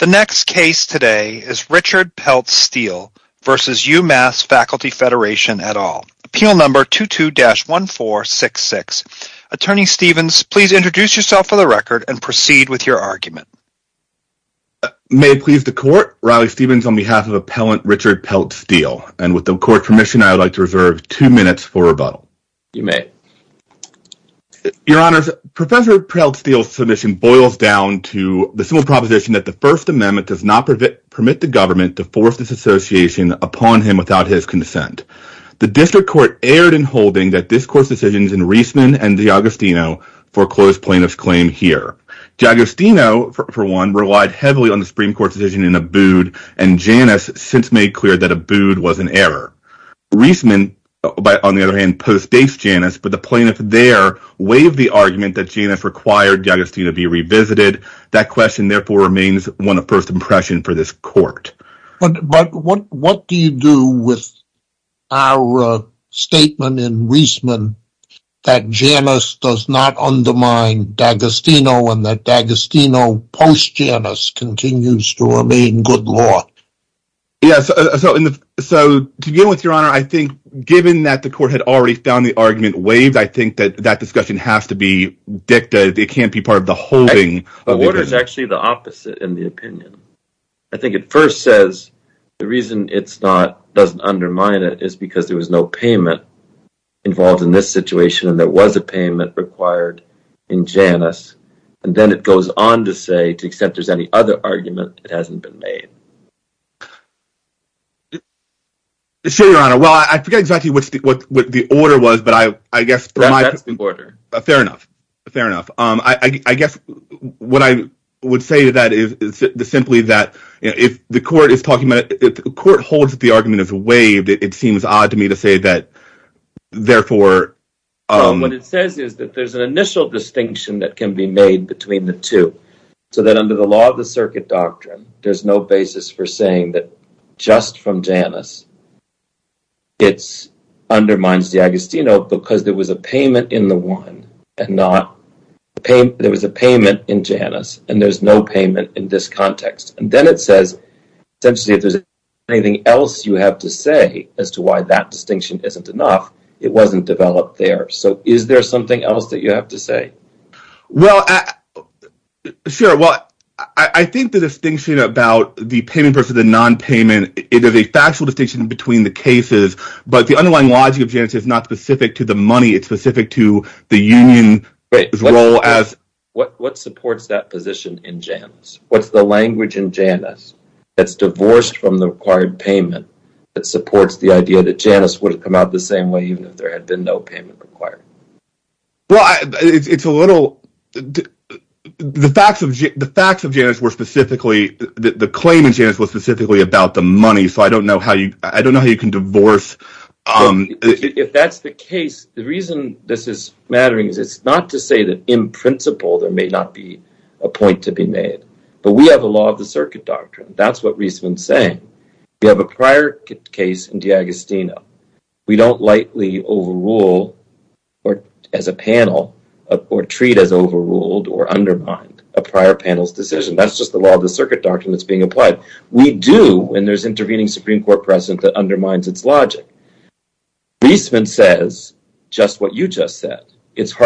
The next case today is Richard Peltz-Steele v. Umass Faculty Federation et al. Appeal number 22-1466. Attorney Stevens, please introduce yourself for the record and proceed with your argument. May it please the Court, Riley Stevens on behalf of Appellant Richard Peltz-Steele. And with the Court's permission, I would like to reserve two minutes for rebuttal. You may. Your Honors, Professor Peltz-Steele's submission boils down to the simple proposition that the First Amendment does not permit the government to force this association upon him without his consent. The District Court erred in holding that this Court's decisions in Reisman and Giagostino foreclosed plaintiff's claim here. Giagostino, for one, relied heavily on the Supreme Court's decision in Abood, and Janus since made clear that Abood was an error. Reisman, on the other hand, postdates Janus, but the plaintiff there waived the argument that Janus required Giagostino be revisited. That question, therefore, remains one of first impression for this Court. But what do you do with our statement in Reisman that Janus does not undermine Giagostino and that Giagostino post-Janus continues to remain good law? Yes, so to begin with, Your Honor, I think given that the Court had already found the argument waived, I think that that discussion has to be dictated. It can't be part of the holding. What is actually the opposite in the opinion? I think it first says the reason it doesn't undermine it is because there was no payment involved in this situation and there was a payment required in Janus. And then it goes on to say, to the extent there's any other argument, it hasn't been made. Sure, Your Honor. Well, I forget exactly what the order was, but I guess— That's the order. Fair enough. Fair enough. I guess what I would say to that is simply that if the Court holds that the argument is waived, it seems odd to me to say that, therefore— What it says is that there's an initial distinction that can be made between the two, so that under the law of the circuit doctrine, there's no basis for saying that just from Janus, it undermines Giagostino because there was a payment in the one and not— there was a payment in Janus and there's no payment in this context. And then it says, essentially, if there's anything else you have to say as to why that distinction isn't enough, it wasn't developed there. So is there something else that you have to say? Well, sure. Well, I think the distinction about the payment versus the nonpayment, it is a factual distinction between the cases, but the underlying logic of Janus is not specific to the money. It's specific to the union's role as— What supports that position in Janus? What's the language in Janus that's divorced from the required payment that supports the idea that Janus would have come out the same way even if there had been no payment required? Well, it's a little—the facts of Janus were specifically— the claim in Janus was specifically about the money, so I don't know how you can divorce— If that's the case, the reason this is mattering is it's not to say that in principle there may not be a point to be made, but we have a law of the circuit doctrine. That's what Riesman's saying. We have a prior case in DiAgostino. We don't lightly overrule or, as a panel, or treat as overruled or undermined a prior panel's decision. That's just the law of the circuit doctrine that's being applied. We do, and there's intervening Supreme Court precedent that undermines its logic. Riesman says just what you just said. That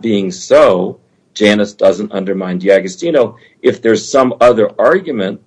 being so, Janus doesn't undermine DiAgostino. If there's some other argument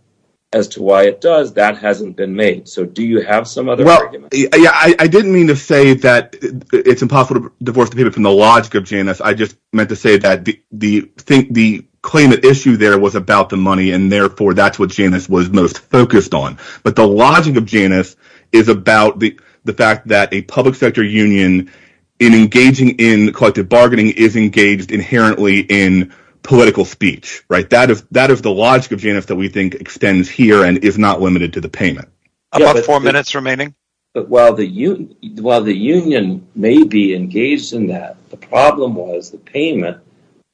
as to why it does, that hasn't been made. So do you have some other argument? Well, yeah, I didn't mean to say that it's impossible to divorce the payment from the logic of Janus. I just meant to say that the claimant issue there was about the money, and therefore that's what Janus was most focused on. But the logic of Janus is about the fact that a public sector union, in engaging in collective bargaining, is engaged inherently in political speech. That is the logic of Janus that we think extends here and is not limited to the payment. About four minutes remaining. While the union may be engaged in that, the problem was the payment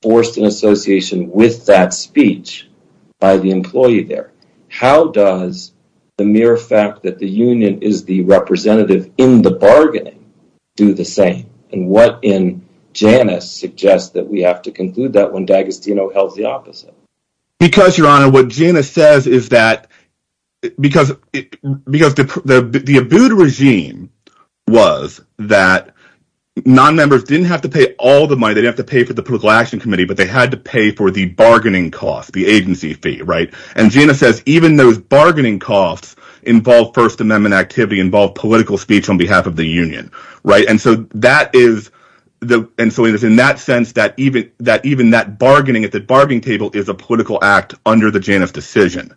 forced an association with that speech by the employee there. How does the mere fact that the union is the representative in the bargaining do the same? And what in Janus suggests that we have to conclude that when DiAgostino held the opposite? Because, Your Honor, what Janus says is that because the Abood regime was that non-members didn't have to pay all the money, they didn't have to pay for the political action committee, but they had to pay for the bargaining cost, the agency fee, right? And Janus says even those bargaining costs involve First Amendment activity, involve political speech on behalf of the union, right? And so that is – and so it is in that sense that even that bargaining at the bargaining table is a political act under the Janus decision.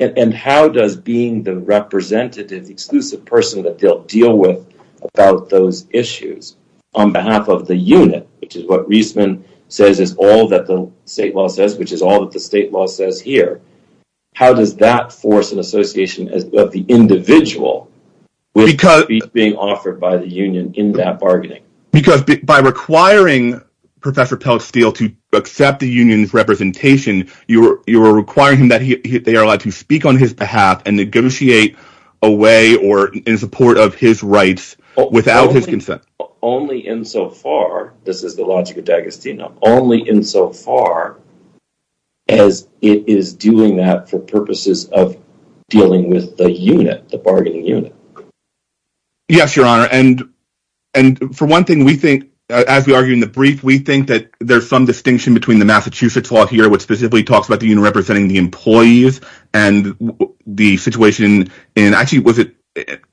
And how does being the representative, the exclusive person that they'll deal with about those issues, on behalf of the unit, which is what Reisman says is all that the state law says, which is all that the state law says here, how does that force an association of the individual with the speech being offered by the union in that bargaining? Because by requiring Professor Peltz-Steele to accept the union's representation, you are requiring him that they are allowed to speak on his behalf and negotiate away or in support of his rights without his consent. Only in so far – this is the logic of D'Agostino – only in so far as it is doing that for purposes of dealing with the unit, the bargaining unit. Yes, Your Honor, and for one thing, we think, as we argue in the brief, we think that there's some distinction between the Massachusetts law here, which specifically talks about the union representing the employees, and the situation in – actually, was it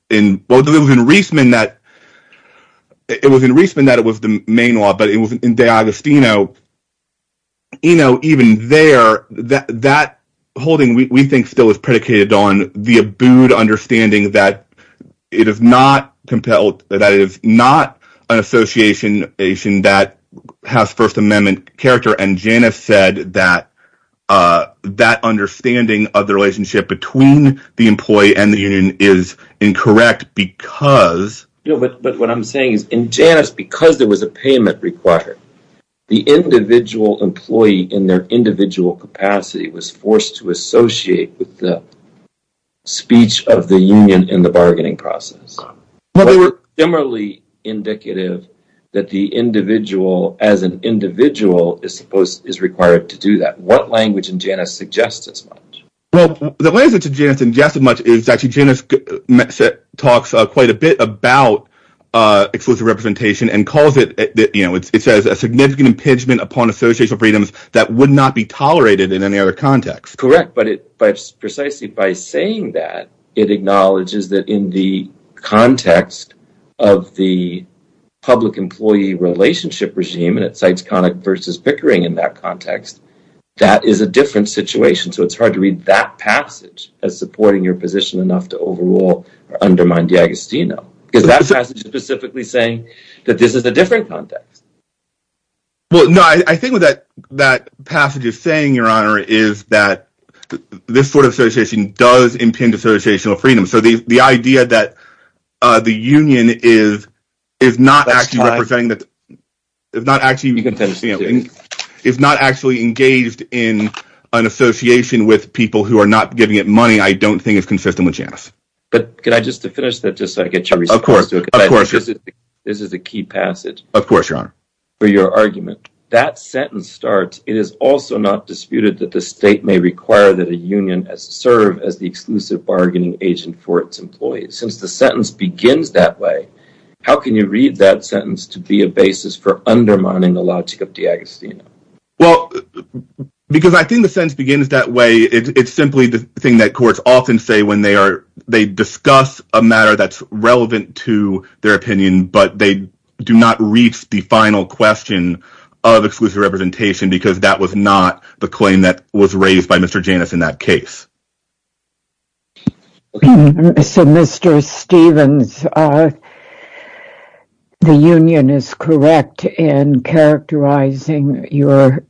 in – well, it was in Reisman that – it was in Reisman that it was the main law, but it was in D'Agostino. You know, even there, that holding, we think, still is predicated on the abode understanding that it is not compelled – that it is not an association that has First Amendment character. And Janus said that that understanding of the relationship between the employee and the union is incorrect because – But what I'm saying is, in Janus, because there was a payment required, the individual employee in their individual capacity was forced to associate with the speech of the union in the bargaining process. Well, they were similarly indicative that the individual, as an individual, is supposed – is required to do that. What language in Janus suggests as much? Well, the language that Janus suggests as much is actually Janus talks quite a bit about exclusive representation and calls it – you know, it says, a significant impingement upon associational freedoms that would not be tolerated in any other context. Correct, but precisely by saying that, it acknowledges that in the context of the public employee relationship regime, and it cites Connick versus Pickering in that context, that is a different situation. So it's hard to read that passage as supporting your position enough to overrule or undermine D'Agostino. Because that passage is specifically saying that this is a different context. Well, no, I think what that passage is saying, Your Honor, is that this sort of association does impinge associational freedom. So the idea that the union is not actually representing – is not actually engaged in an association with people who are not giving it money, I don't think is consistent with Janus. But can I just finish that just so I get your response? Of course. This is a key passage. Of course, Your Honor. For your argument, that sentence starts, it is also not disputed that the state may require that a union serve as the exclusive bargaining agent for its employees. Since the sentence begins that way, how can you read that sentence to be a basis for undermining the logic of D'Agostino? Well, because I think the sentence begins that way, it's simply the thing that courts often say when they discuss a matter that's relevant to their opinion, but they do not reach the final question of exclusive representation because that was not the claim that was raised by Mr. Janus in that case. So, Mr. Stevens, the union is correct in characterizing your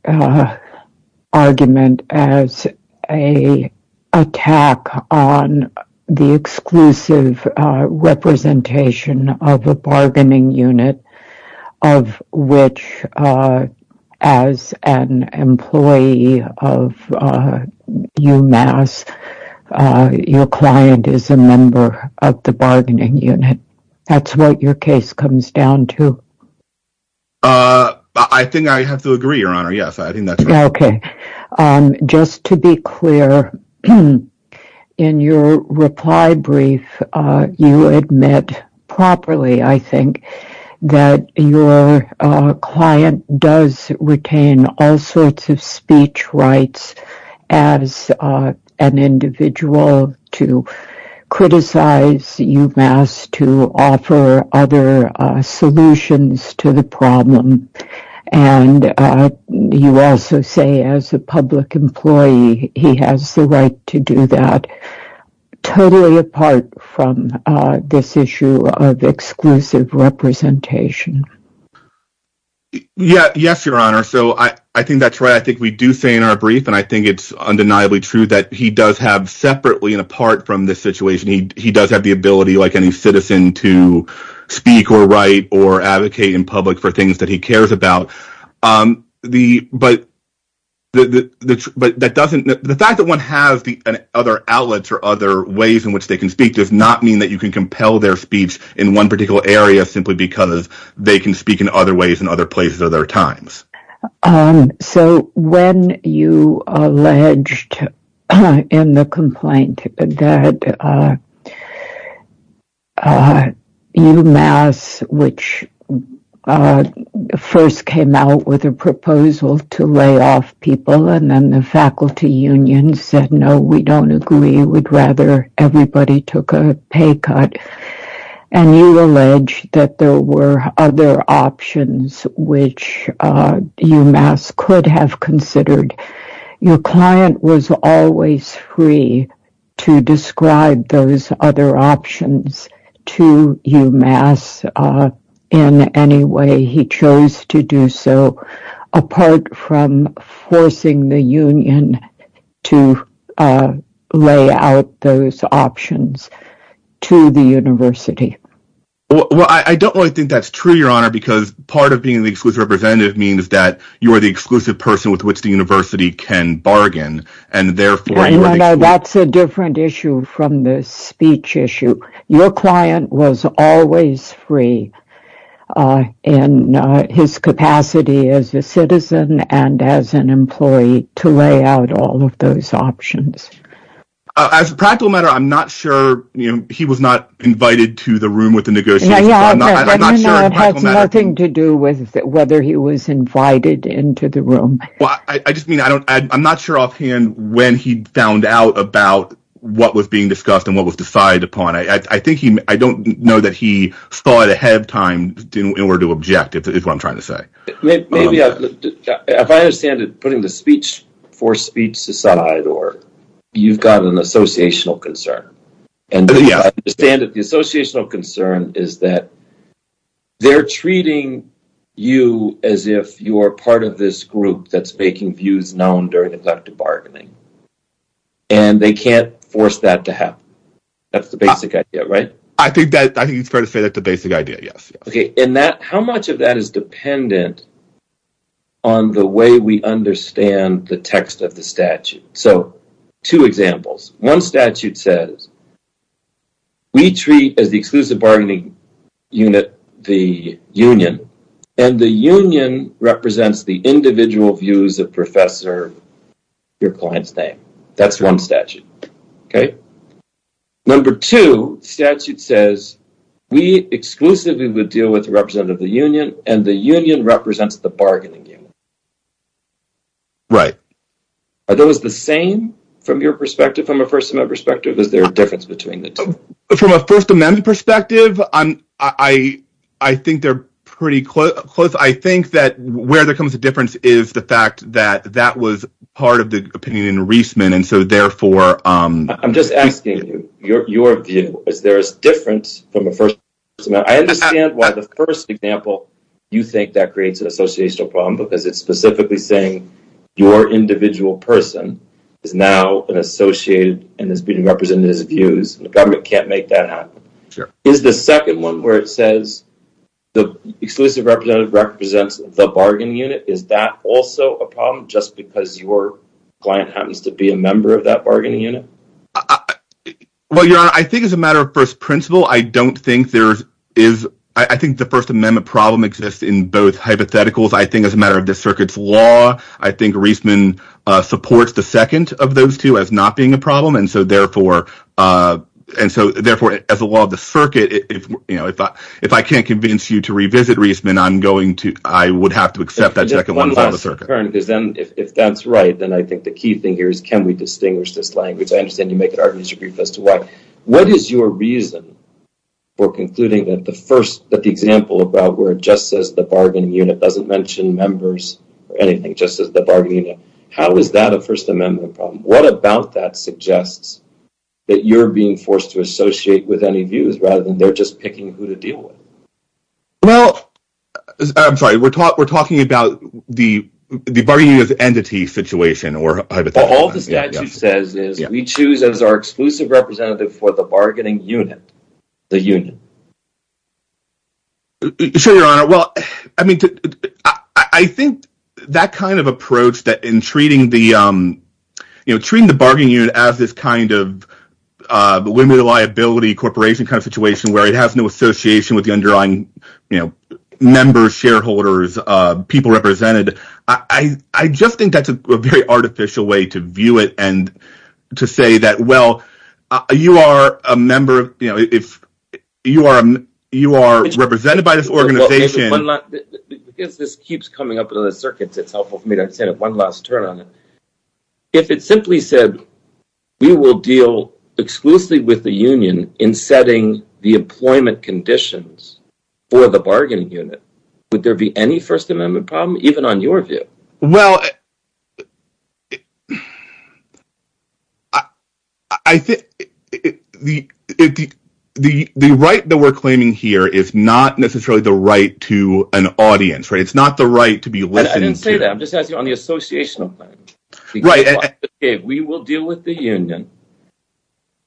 argument as an attack on the exclusive representation of a bargaining unit of which, as an employee of UMass, your client is a member of the bargaining unit. That's what your case comes down to. I think I have to agree, Your Honor. Yes, I think that's correct. Just to be clear, in your reply brief, you admit properly, I think, that your client does retain all sorts of speech rights as an individual to criticize UMass, to offer other solutions to the problem, and you also say, as a public employee, he has the right to do that, totally apart from this issue of exclusive representation. Yes, Your Honor, so I think that's right. I think we do say in our brief, and I think it's undeniably true, that he does have, separately and apart from this situation, he does have the ability, like any citizen, to speak or write or advocate in public for things that he cares about. The fact that one has other outlets or other ways in which they can speak does not mean that you can compel their speech in one particular area simply because they can speak in other ways in other places or other times. So when you alleged in the complaint that UMass, which first came out with a proposal to lay off people and then the faculty union said, no, we don't agree, we'd rather everybody took a pay cut, and you allege that there were other options which UMass could have considered, your client was always free to describe those other options to UMass in any way he chose to do so, apart from forcing the union to lay out those options to the university. Well, I don't really think that's true, Your Honor, because part of being the exclusive representative means that you are the exclusive person with which the university can bargain, and therefore... No, no, no, that's a different issue from the speech issue. Your client was always free in his capacity as a citizen and as an employee to lay out all of those options. As a practical matter, I'm not sure, he was not invited to the room with the negotiations, so I'm not sure... No, no, no, it has nothing to do with whether he was invited into the room. Well, I just mean, I'm not sure offhand when he found out about what was being discussed and what was decided upon. I think he, I don't know that he thought ahead of time in order to object, is what I'm trying to say. Maybe, if I understand it, putting the speech for speech aside, or you've got an associational concern. And I understand that the associational concern is that they're treating you as if you're part of this group that's making views known during elective bargaining. And they can't force that to happen. That's the basic idea, right? I think it's fair to say that's the basic idea, yes. Okay, and that, how much of that is dependent on the way we understand the text of the statute? So, two examples. One statute says, we treat as the exclusive bargaining unit, the union, and the union represents the individual views of Professor, your client's name. That's one statute, okay? Number two statute says, we exclusively would deal with representative of the union, and the union represents the bargaining unit. Right. Are those the same from your perspective, from a First Amendment perspective? Is there a difference between the two? From a First Amendment perspective, I think they're pretty close. I think that where there comes a difference is the fact that that was part of the opinion in Reisman, and so, therefore… I'm just asking you, your view, is there a difference from a First Amendment? I understand why the first example, you think that creates an associational problem because it's specifically saying your individual person is now an associated and is being represented as views, and the government can't make that happen. Sure. Is the second one where it says the exclusive representative represents the bargaining unit, is that also a problem just because your client happens to be a member of that bargaining unit? Well, your Honor, I think as a matter of first principle, I don't think there is…I think the First Amendment problem exists in both hypotheticals. I think as a matter of the circuit's law, I think Reisman supports the second of those two as not being a problem, and so, therefore, as a law of the circuit, if I can't convince you to revisit Reisman, I'm going to…I would have to accept that second one from the circuit. If that's right, then I think the key thing here is can we distinguish this language? I understand you make an argument as to why. What is your reason for concluding that the first…that the example about where it just says the bargaining unit doesn't mention members or anything, just says the bargaining unit? How is that a First Amendment problem? What about that suggests that you're being forced to associate with any views rather than they're just picking who to deal with? Well, I'm sorry. We're talking about the bargaining as entity situation or hypothetical. All the statute says is we choose as our exclusive representative for the bargaining unit, the union. Sure, Your Honor. Well, I mean, I think that kind of approach that in treating the…you know, treating the bargaining unit as this kind of women liability corporation kind of situation where it has no association with the underlying, you know, members, shareholders, people represented. I just think that's a very artificial way to view it and to say that, well, you are a member of…you know, if you are represented by this organization… Because this keeps coming up in the circuits, it's helpful for me to understand it. One last turn on it. If it simply said we will deal exclusively with the union in setting the employment conditions for the bargaining unit, would there be any First Amendment problem even on your view? Well, I think the right that we're claiming here is not necessarily the right to an audience, right? It's not the right to be listened to. I didn't say that. I'm just asking on the associational plan. Right. We will deal with the union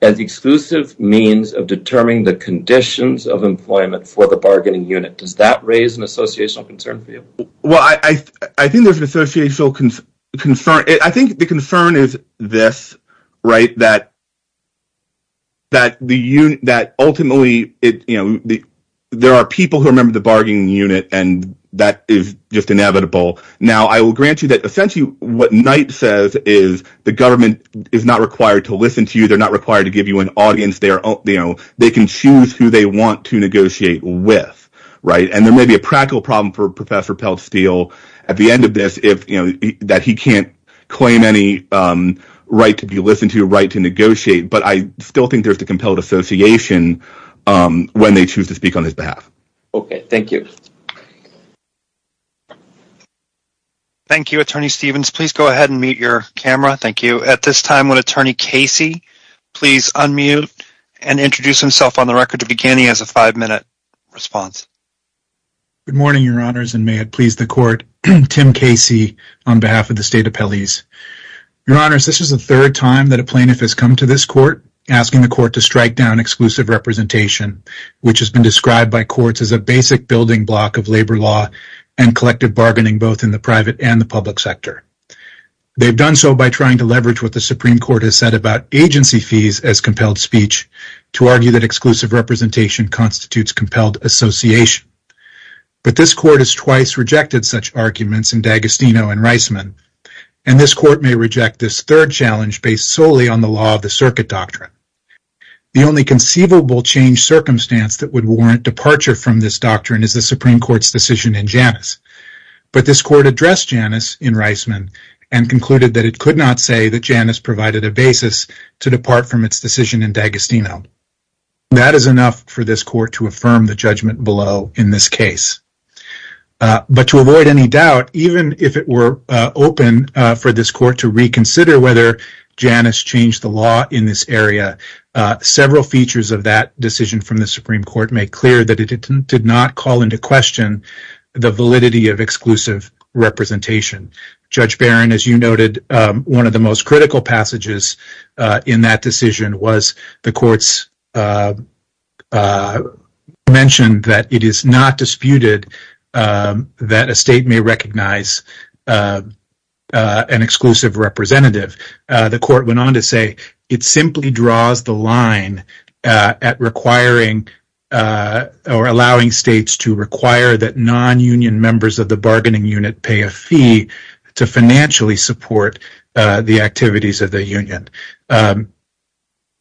as exclusive means of determining the conditions of employment for the bargaining unit. Does that raise an associational concern for you? Well, I think there's an associational concern. I think the concern is this, right, that ultimately, you know, inevitable. Now, I will grant you that essentially what Knight says is the government is not required to listen to you. They're not required to give you an audience. They can choose who they want to negotiate with, right? And there may be a practical problem for Professor Peltz-Steele at the end of this that he can't claim any right to be listened to, right, to negotiate. But I still think there's the compelled association when they choose to speak on his behalf. Okay. Thank you. Thank you, Attorney Stevens. Please go ahead and mute your camera. Thank you. At this time, would Attorney Casey please unmute and introduce himself on the record to begin? He has a five-minute response. Good morning, Your Honors, and may it please the court, Tim Casey on behalf of the State Appellees. Your Honors, this is the third time that a plaintiff has come to this court asking the court to strike down exclusive representation, which has been described by courts as a basic building block of labor law and collective bargaining both in the private and the public sector. They've done so by trying to leverage what the Supreme Court has said about agency fees as compelled speech to argue that exclusive representation constitutes compelled association. But this court has twice rejected such arguments in D'Agostino and Reisman, and this court may reject this third challenge based solely on the law of the circuit doctrine. The only conceivable change circumstance that would warrant departure from this doctrine is the Supreme Court's decision in Janus. But this court addressed Janus in Reisman and concluded that it could not say that Janus provided a basis to depart from its decision in D'Agostino. That is enough for this court to affirm the judgment below in this case. But to avoid any doubt, even if it were open for this court to reconsider whether Janus changed the law in this area, several features of that decision from the Supreme Court make clear that it did not call into question the validity of exclusive representation. Judge Barron, as you noted, one of the most critical passages in that decision was the court's mention that it is not disputed that a state may recognize an exclusive representative. The court went on to say it simply draws the line at requiring or allowing states to require that non-union members of the bargaining unit pay a fee to financially support the activities of the union.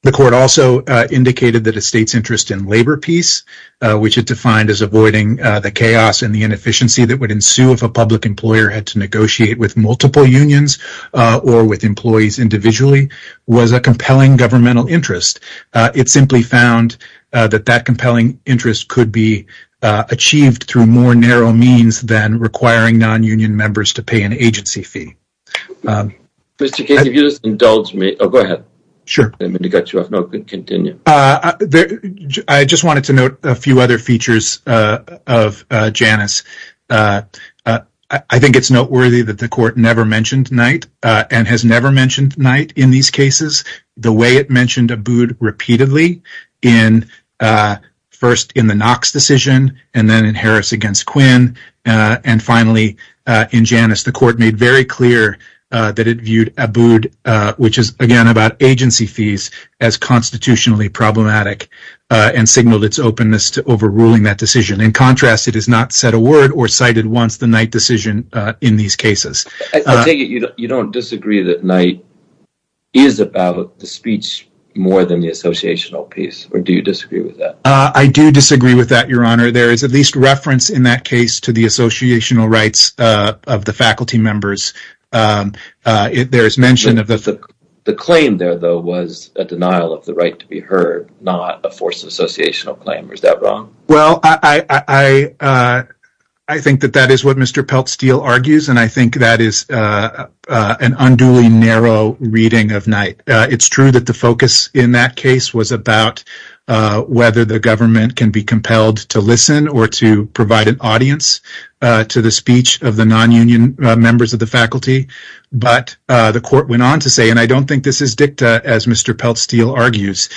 The court also indicated that a state's interest in labor peace, which it defined as avoiding the chaos and the inefficiency that would ensue if a public employer had to negotiate with multiple unions or with employees individually, was a compelling governmental interest. It simply found that that compelling interest could be achieved through more narrow means than requiring non-union members to pay an agency fee. Mr. Case, if you'll just indulge me. Oh, go ahead. Sure. I just wanted to note a few other features of Janus. I think it's noteworthy that the court never mentioned Knight and has never mentioned Knight in these cases. The way it mentioned Abood repeatedly, in first in the Knox decision and then in Harris against Quinn, and finally in Janus, the court made very clear that it viewed Abood, which is again about agency fees, as constitutionally problematic and signaled its openness to overruling that decision. In contrast, it has not said a word or cited once the Knight decision in these cases. I take it you don't disagree that Knight is about the speech more than the associational piece, or do you disagree with that? I do disagree with that, Your Honor. There is at least reference in that case to the associational rights of the faculty members. There is mention of the- The claim there, though, was a denial of the right to be heard, not a force of associational claim. Is that wrong? Well, I think that that is what Mr. Peltz-Steele argues, and I think that is an unduly narrow reading of Knight. It's true that the focus in that case was about whether the government can be able to listen or to provide an audience to the speech of the non-union members of the faculty, but the court went on to say, and I don't think this is dicta, as Mr. Peltz-Steele argues,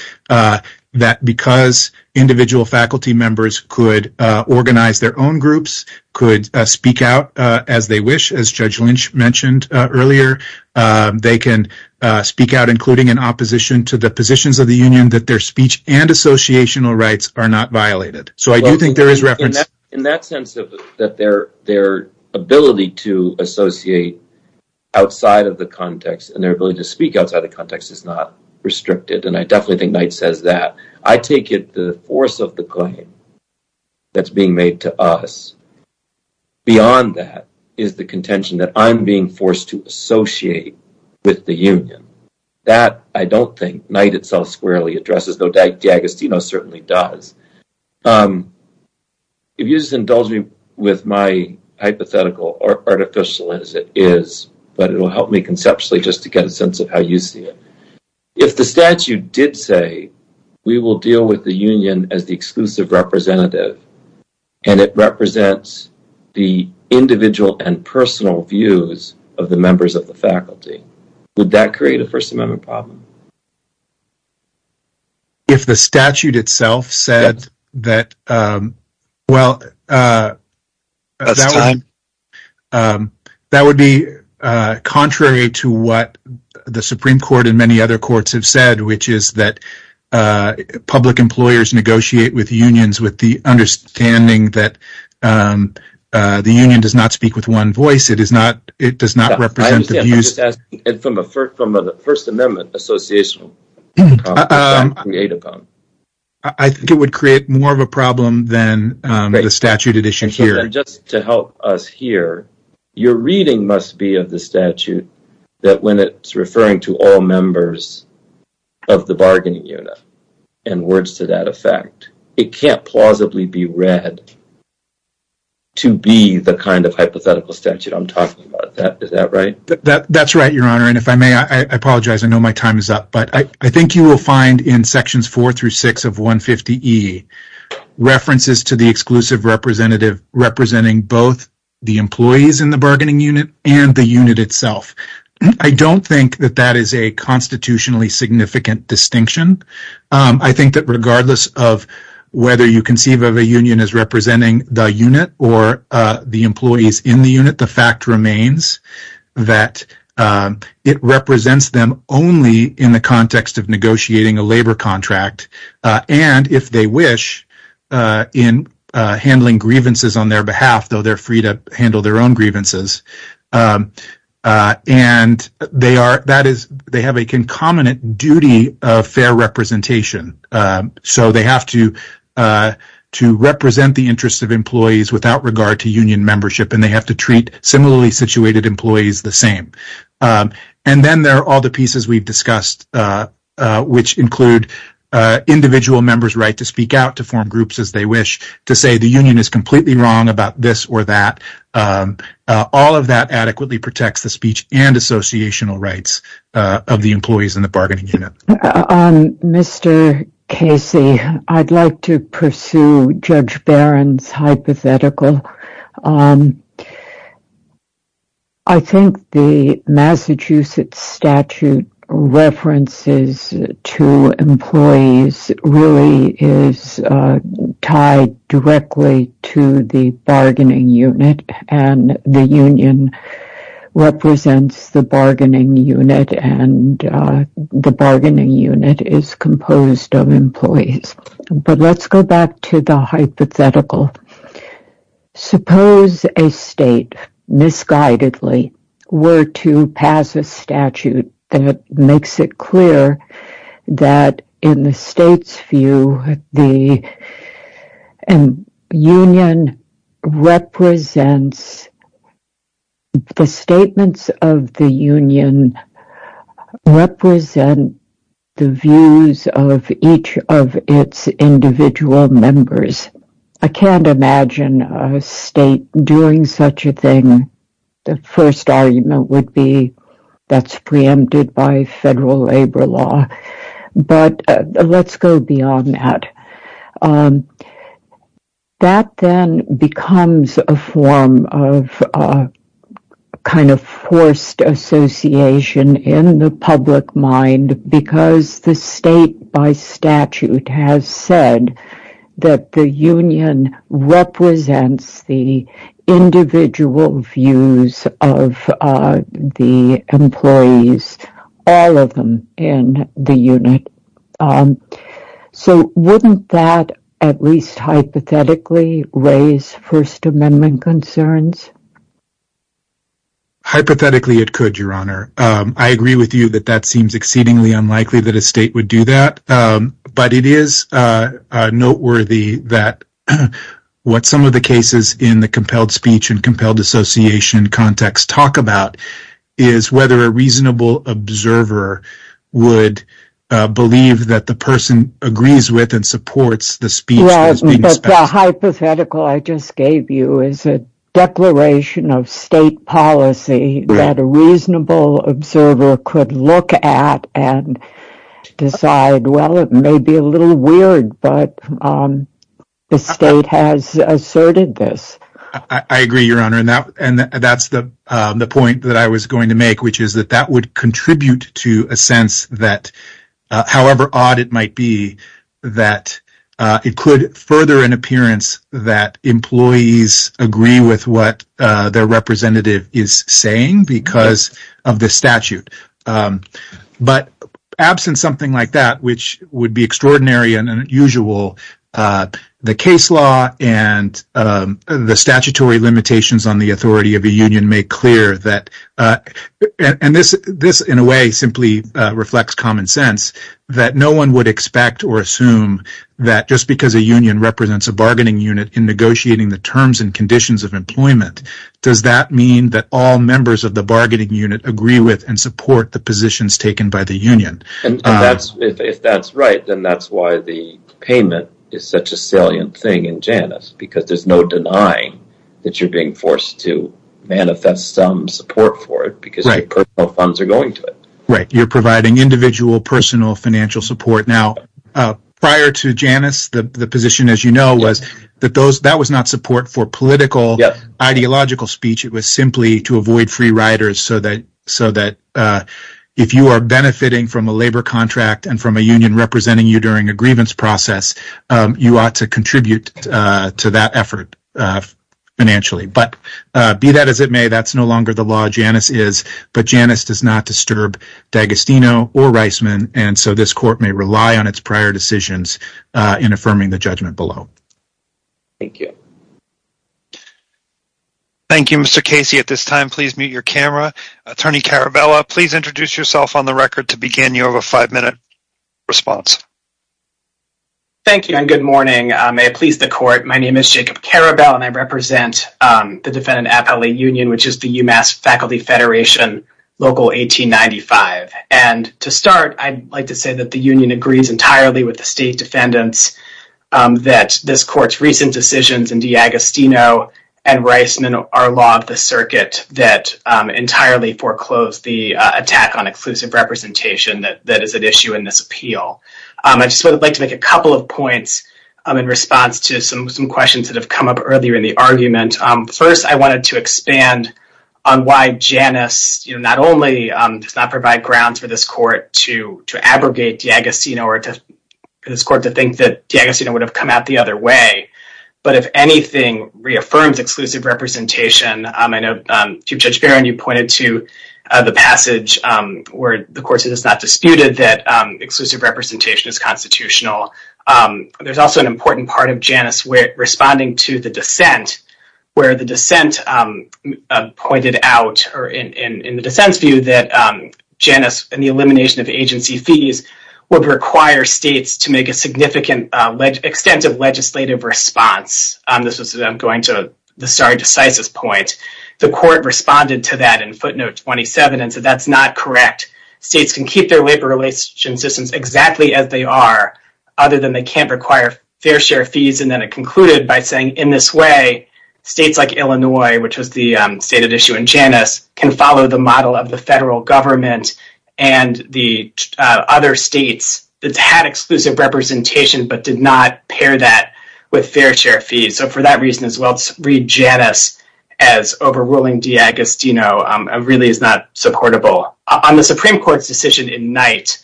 that because individual faculty members could organize their own groups, could speak out as they wish, as Judge Lynch mentioned earlier, they can speak out, including in opposition to the positions of the union, that their speech and associational rights are not violated. So I do think there is reference- In that sense, that their ability to associate outside of the context and their ability to speak outside of the context is not restricted, and I definitely think Knight says that. I take it the force of the claim that's being made to us, beyond that, is the contention that I'm being forced to associate with the union. That, I don't think, Knight itself squarely addresses, though DiAgostino certainly does. If you just indulge me with my hypothetical, or artificial as it is, but it will help me conceptually just to get a sense of how you see it. If the statute did say, we will deal with the union as the exclusive representative, and it represents the individual and personal views of the members of the faculty, would that create a First Amendment problem? If the statute itself said that, well, that would be contrary to what the Supreme Court and many other courts have said, which is that public employers negotiate with unions with the understanding that the union does not speak with one voice. It does not represent the views- I'm just asking, from a First Amendment association, what would that create a problem? I think it would create more of a problem than the statute edition here. Just to help us here, your reading must be of the statute that when it's referring to all members of the bargaining unit, and words to that effect, it can't plausibly be read to be the kind of hypothetical statute I'm talking about. Is that right? That's right, Your Honor, and if I may, I apologize, I know my time is up, but I think you will find in Sections 4 through 6 of 150E, references to the exclusive representative representing both the employees in the bargaining unit and the unit itself. I don't think that that is a constitutionally significant distinction. I think that regardless of whether you conceive of a union as representing the unit or the employees in the unit, the fact remains that it represents them only in the context of negotiating a labor contract, and if they wish, in handling grievances on their behalf, though they're free to handle their own grievances, and they have a concomitant duty of fair representation. So they have to represent the interests of employees without regard to union membership, and they have to treat similarly situated employees the same. And then there are all the pieces we've discussed, which include individual members' right to speak out, to form groups as they wish, to say the union is completely wrong about this or that. All of that adequately protects the speech and associational rights of the employees in the bargaining unit. Mr. Casey, I'd like to pursue Judge Barron's hypothetical. I think the Massachusetts statute references to employees really is tied directly to the bargaining unit, and the union represents the bargaining unit, and the bargaining unit is composed of employees. But let's go back to the hypothetical. Suppose a state misguidedly were to pass a statute that makes it clear that in the state's view, the statements of the union represent the views of each of its individual members. I can't imagine a state doing such a thing. The first argument would be that's preempted by federal labor law. But let's go beyond that. That then becomes a form of kind of forced association in the public mind, because the state by statute has said that the union represents the individual views of the employees, all of them in the unit. So wouldn't that at least hypothetically raise First Amendment concerns? Hypothetically it could, Your Honor. I agree with you that that seems exceedingly unlikely that a state would do that. But it is noteworthy that what some of the cases in the compelled speech and compelled association context talk about is whether a reasonable observer would believe that the person agrees with and supports the speech that is being spent. The hypothetical I just gave you is a declaration of state policy that a reasonable observer could look at and decide, well, it may be a little weird, but the state has asserted this. I agree, Your Honor, and that's the point that I was going to make, which is that that would contribute to a sense that, however odd it might be, that it could further an appearance that employees agree with what their representative is saying because of the statute. But absent something like that, which would be extraordinary and unusual, the case law and the statutory limitations on the authority of a union make clear that, and this in a way simply reflects common sense, that no one would expect or assume that just because a union represents a bargaining unit in negotiating the terms and conditions of employment, does that mean that all members of the bargaining unit agree with and support the positions taken by the union. And if that's right, then that's why the payment is such a salient thing in Janus, because there's no denying that you're being forced to manifest some support for it because your personal funds are going to it. Right, you're providing individual personal financial support. Now, prior to Janus, the position, as you know, was that that was not support for political, ideological speech. It was simply to avoid free riders so that if you are benefiting from a labor contract and from a union representing you during a grievance process, you ought to contribute to that effort financially. But be that as it may, that's no longer the law Janus is, but Janus does not disturb D'Agostino or Reisman, and so this court may rely on its prior decisions in affirming the judgment below. Thank you. Thank you, Mr. Casey. At this time, please mute your camera. Attorney Carabello, please introduce yourself on the record to begin your five minute response. Thank you and good morning. May it please the court. My name is Jacob Carabello and I represent the defendant appellate union, which is the UMass Faculty Federation Local 1895. And to start, I'd like to say that the union agrees entirely with the state defendants that this court's recent decisions in D'Agostino and Reisman are law of the circuit that entirely foreclosed the attack on exclusive representation that is at issue in this appeal. I just would like to make a couple of points in response to some questions that have come up earlier in the argument. First, I wanted to expand on why Janus not only does not provide grounds for this court to to abrogate D'Agostino or to this court to think that D'Agostino would have come out the other way. But if anything, reaffirms exclusive representation. I know Chief Judge Barron, you pointed to the passage where the court has not disputed that exclusive representation is constitutional. There's also an important part of Janus where responding to the dissent where the dissent pointed out or in the dissent's view that Janus and the elimination of agency fees would require states to make a significant extent of legislative response. This is going to the sorry decisis point. The court responded to that in footnote 27 and said that's not correct. States can keep their labor relations systems exactly as they are other than they can't require fair share fees. And then it concluded by saying in this way, states like Illinois, which was the stated issue in Janus, can follow the model of the federal government and the other states that had exclusive representation but did not pair that with fair share fees. So for that reason as well, read Janus as overruling D'Agostino really is not supportable. On the Supreme Court's decision in Knight,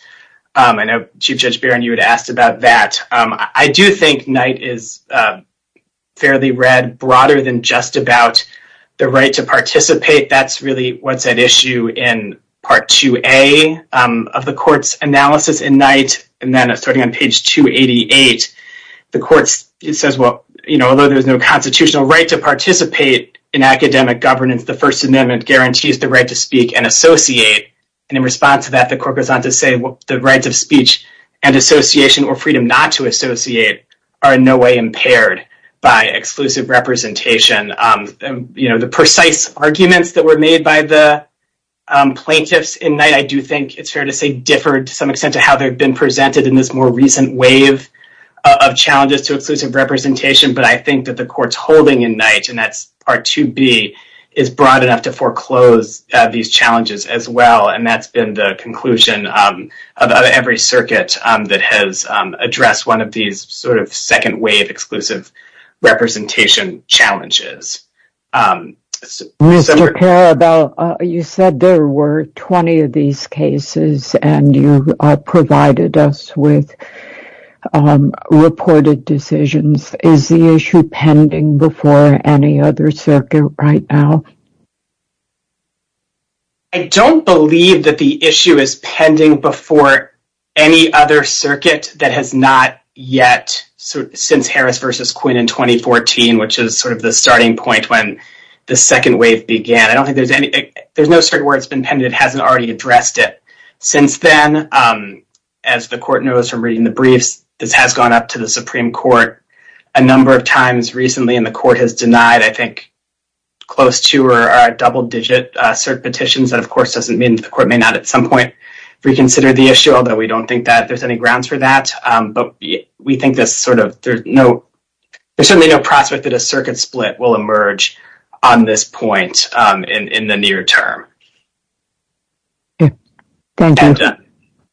I know Chief Judge Barron, you had asked about that. I do think Knight is fairly read broader than just about the right to participate. That's really what's at issue in Part 2A of the court's analysis in Knight. And then starting on page 288, the court says, well, you know, although there's no constitutional right to participate in academic governance, the First Amendment guarantees the right to speak and associate. And in response to that, the court goes on to say the rights of speech and association or freedom not to associate are in no way impaired by exclusive representation. You know, the precise arguments that were made by the plaintiffs in Knight, I do think it's fair to say, differed to some extent to how they've been presented in this more recent wave of challenges to exclusive representation. But I think that the court's holding in Knight, and that's Part 2B, is broad enough to foreclose these challenges as well. And that's been the conclusion of every circuit that has addressed one of these sort of second wave exclusive representation challenges. Mr. Carabell, you said there were 20 of these cases, and you provided us with reported decisions. Is the issue pending before any other circuit right now? I don't believe that the issue is pending before any other circuit that has not yet since Harris versus Quinn in 2014, which is sort of the starting point when the second wave began. I don't think there's any there's no certain where it's been pending. It hasn't already addressed it since then. As the court knows from reading the briefs, this has gone up to the Supreme Court a number of times recently, and the court has denied, I think, close to or double digit cert petitions. That, of course, doesn't mean the court may not at some point reconsider the issue, although we don't think that there's any grounds for that. But we think there's certainly no prospect that a circuit split will emerge on this point in the near term.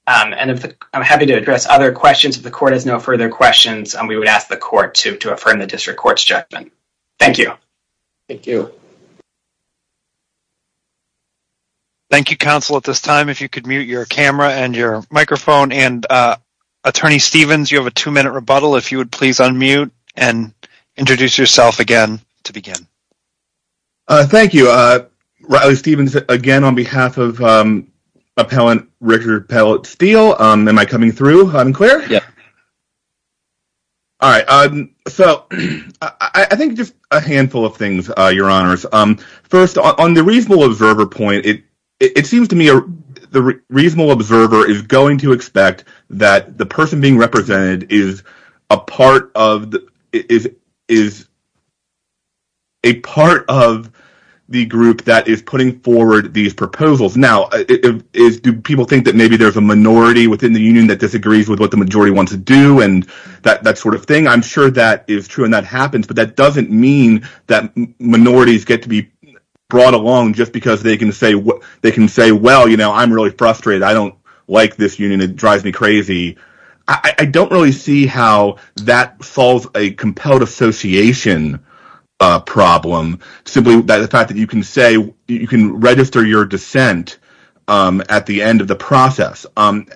And I'm happy to address other questions if the court has no further questions, and we would ask the court to to affirm the district court's judgment. Thank you. Thank you. Thank you, counsel, at this time, if you could mute your camera and your microphone and Attorney Stevens, you have a two minute rebuttal, if you would please unmute and introduce yourself again to begin. Thank you, Riley Stevens, again, on behalf of appellant Richard Pellett Steele, am I coming through unclear? Yeah. All right. So I think just a handful of things, your honors. First, on the reasonable observer point, it it seems to me the reasonable observer is going to expect that the person being represented is a part of the is is. A part of the group that is putting forward these proposals now is do people think that maybe there's a minority within the union that disagrees with what the majority wants to do and that sort of thing? I'm sure that is true and that happens, but that doesn't mean that minorities get to be brought along just because they can say they can say, well, you know, I'm really frustrated. I don't like this union. It drives me crazy. I don't really see how that solves a compelled association problem simply by the fact that you can say you can register your dissent at the end of the process. And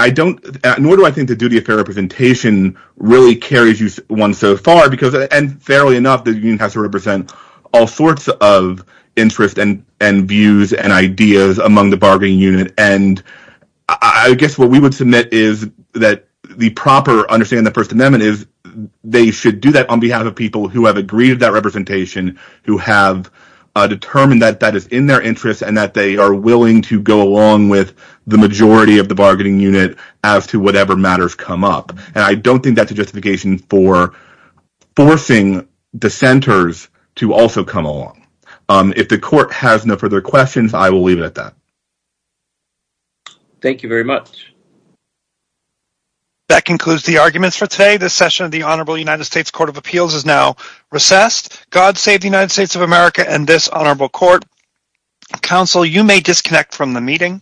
I don't nor do I think the duty of fair representation really carries you one so far because and fairly enough, the union has to represent all sorts of interest and and views and ideas among the bargaining unit. I guess what we would submit is that the proper understanding the First Amendment is they should do that on behalf of people who have agreed that representation, who have determined that that is in their interest and that they are willing to go along with the majority of the bargaining unit as to whatever matters come up. And I don't think that's a justification for forcing dissenters to also come along. If the court has no further questions, I will leave it at that. Thank you very much. That concludes the arguments for today. The session of the Honorable United States Court of Appeals is now recessed. God save the United States of America and this honorable court. Counsel, you may disconnect from the meeting.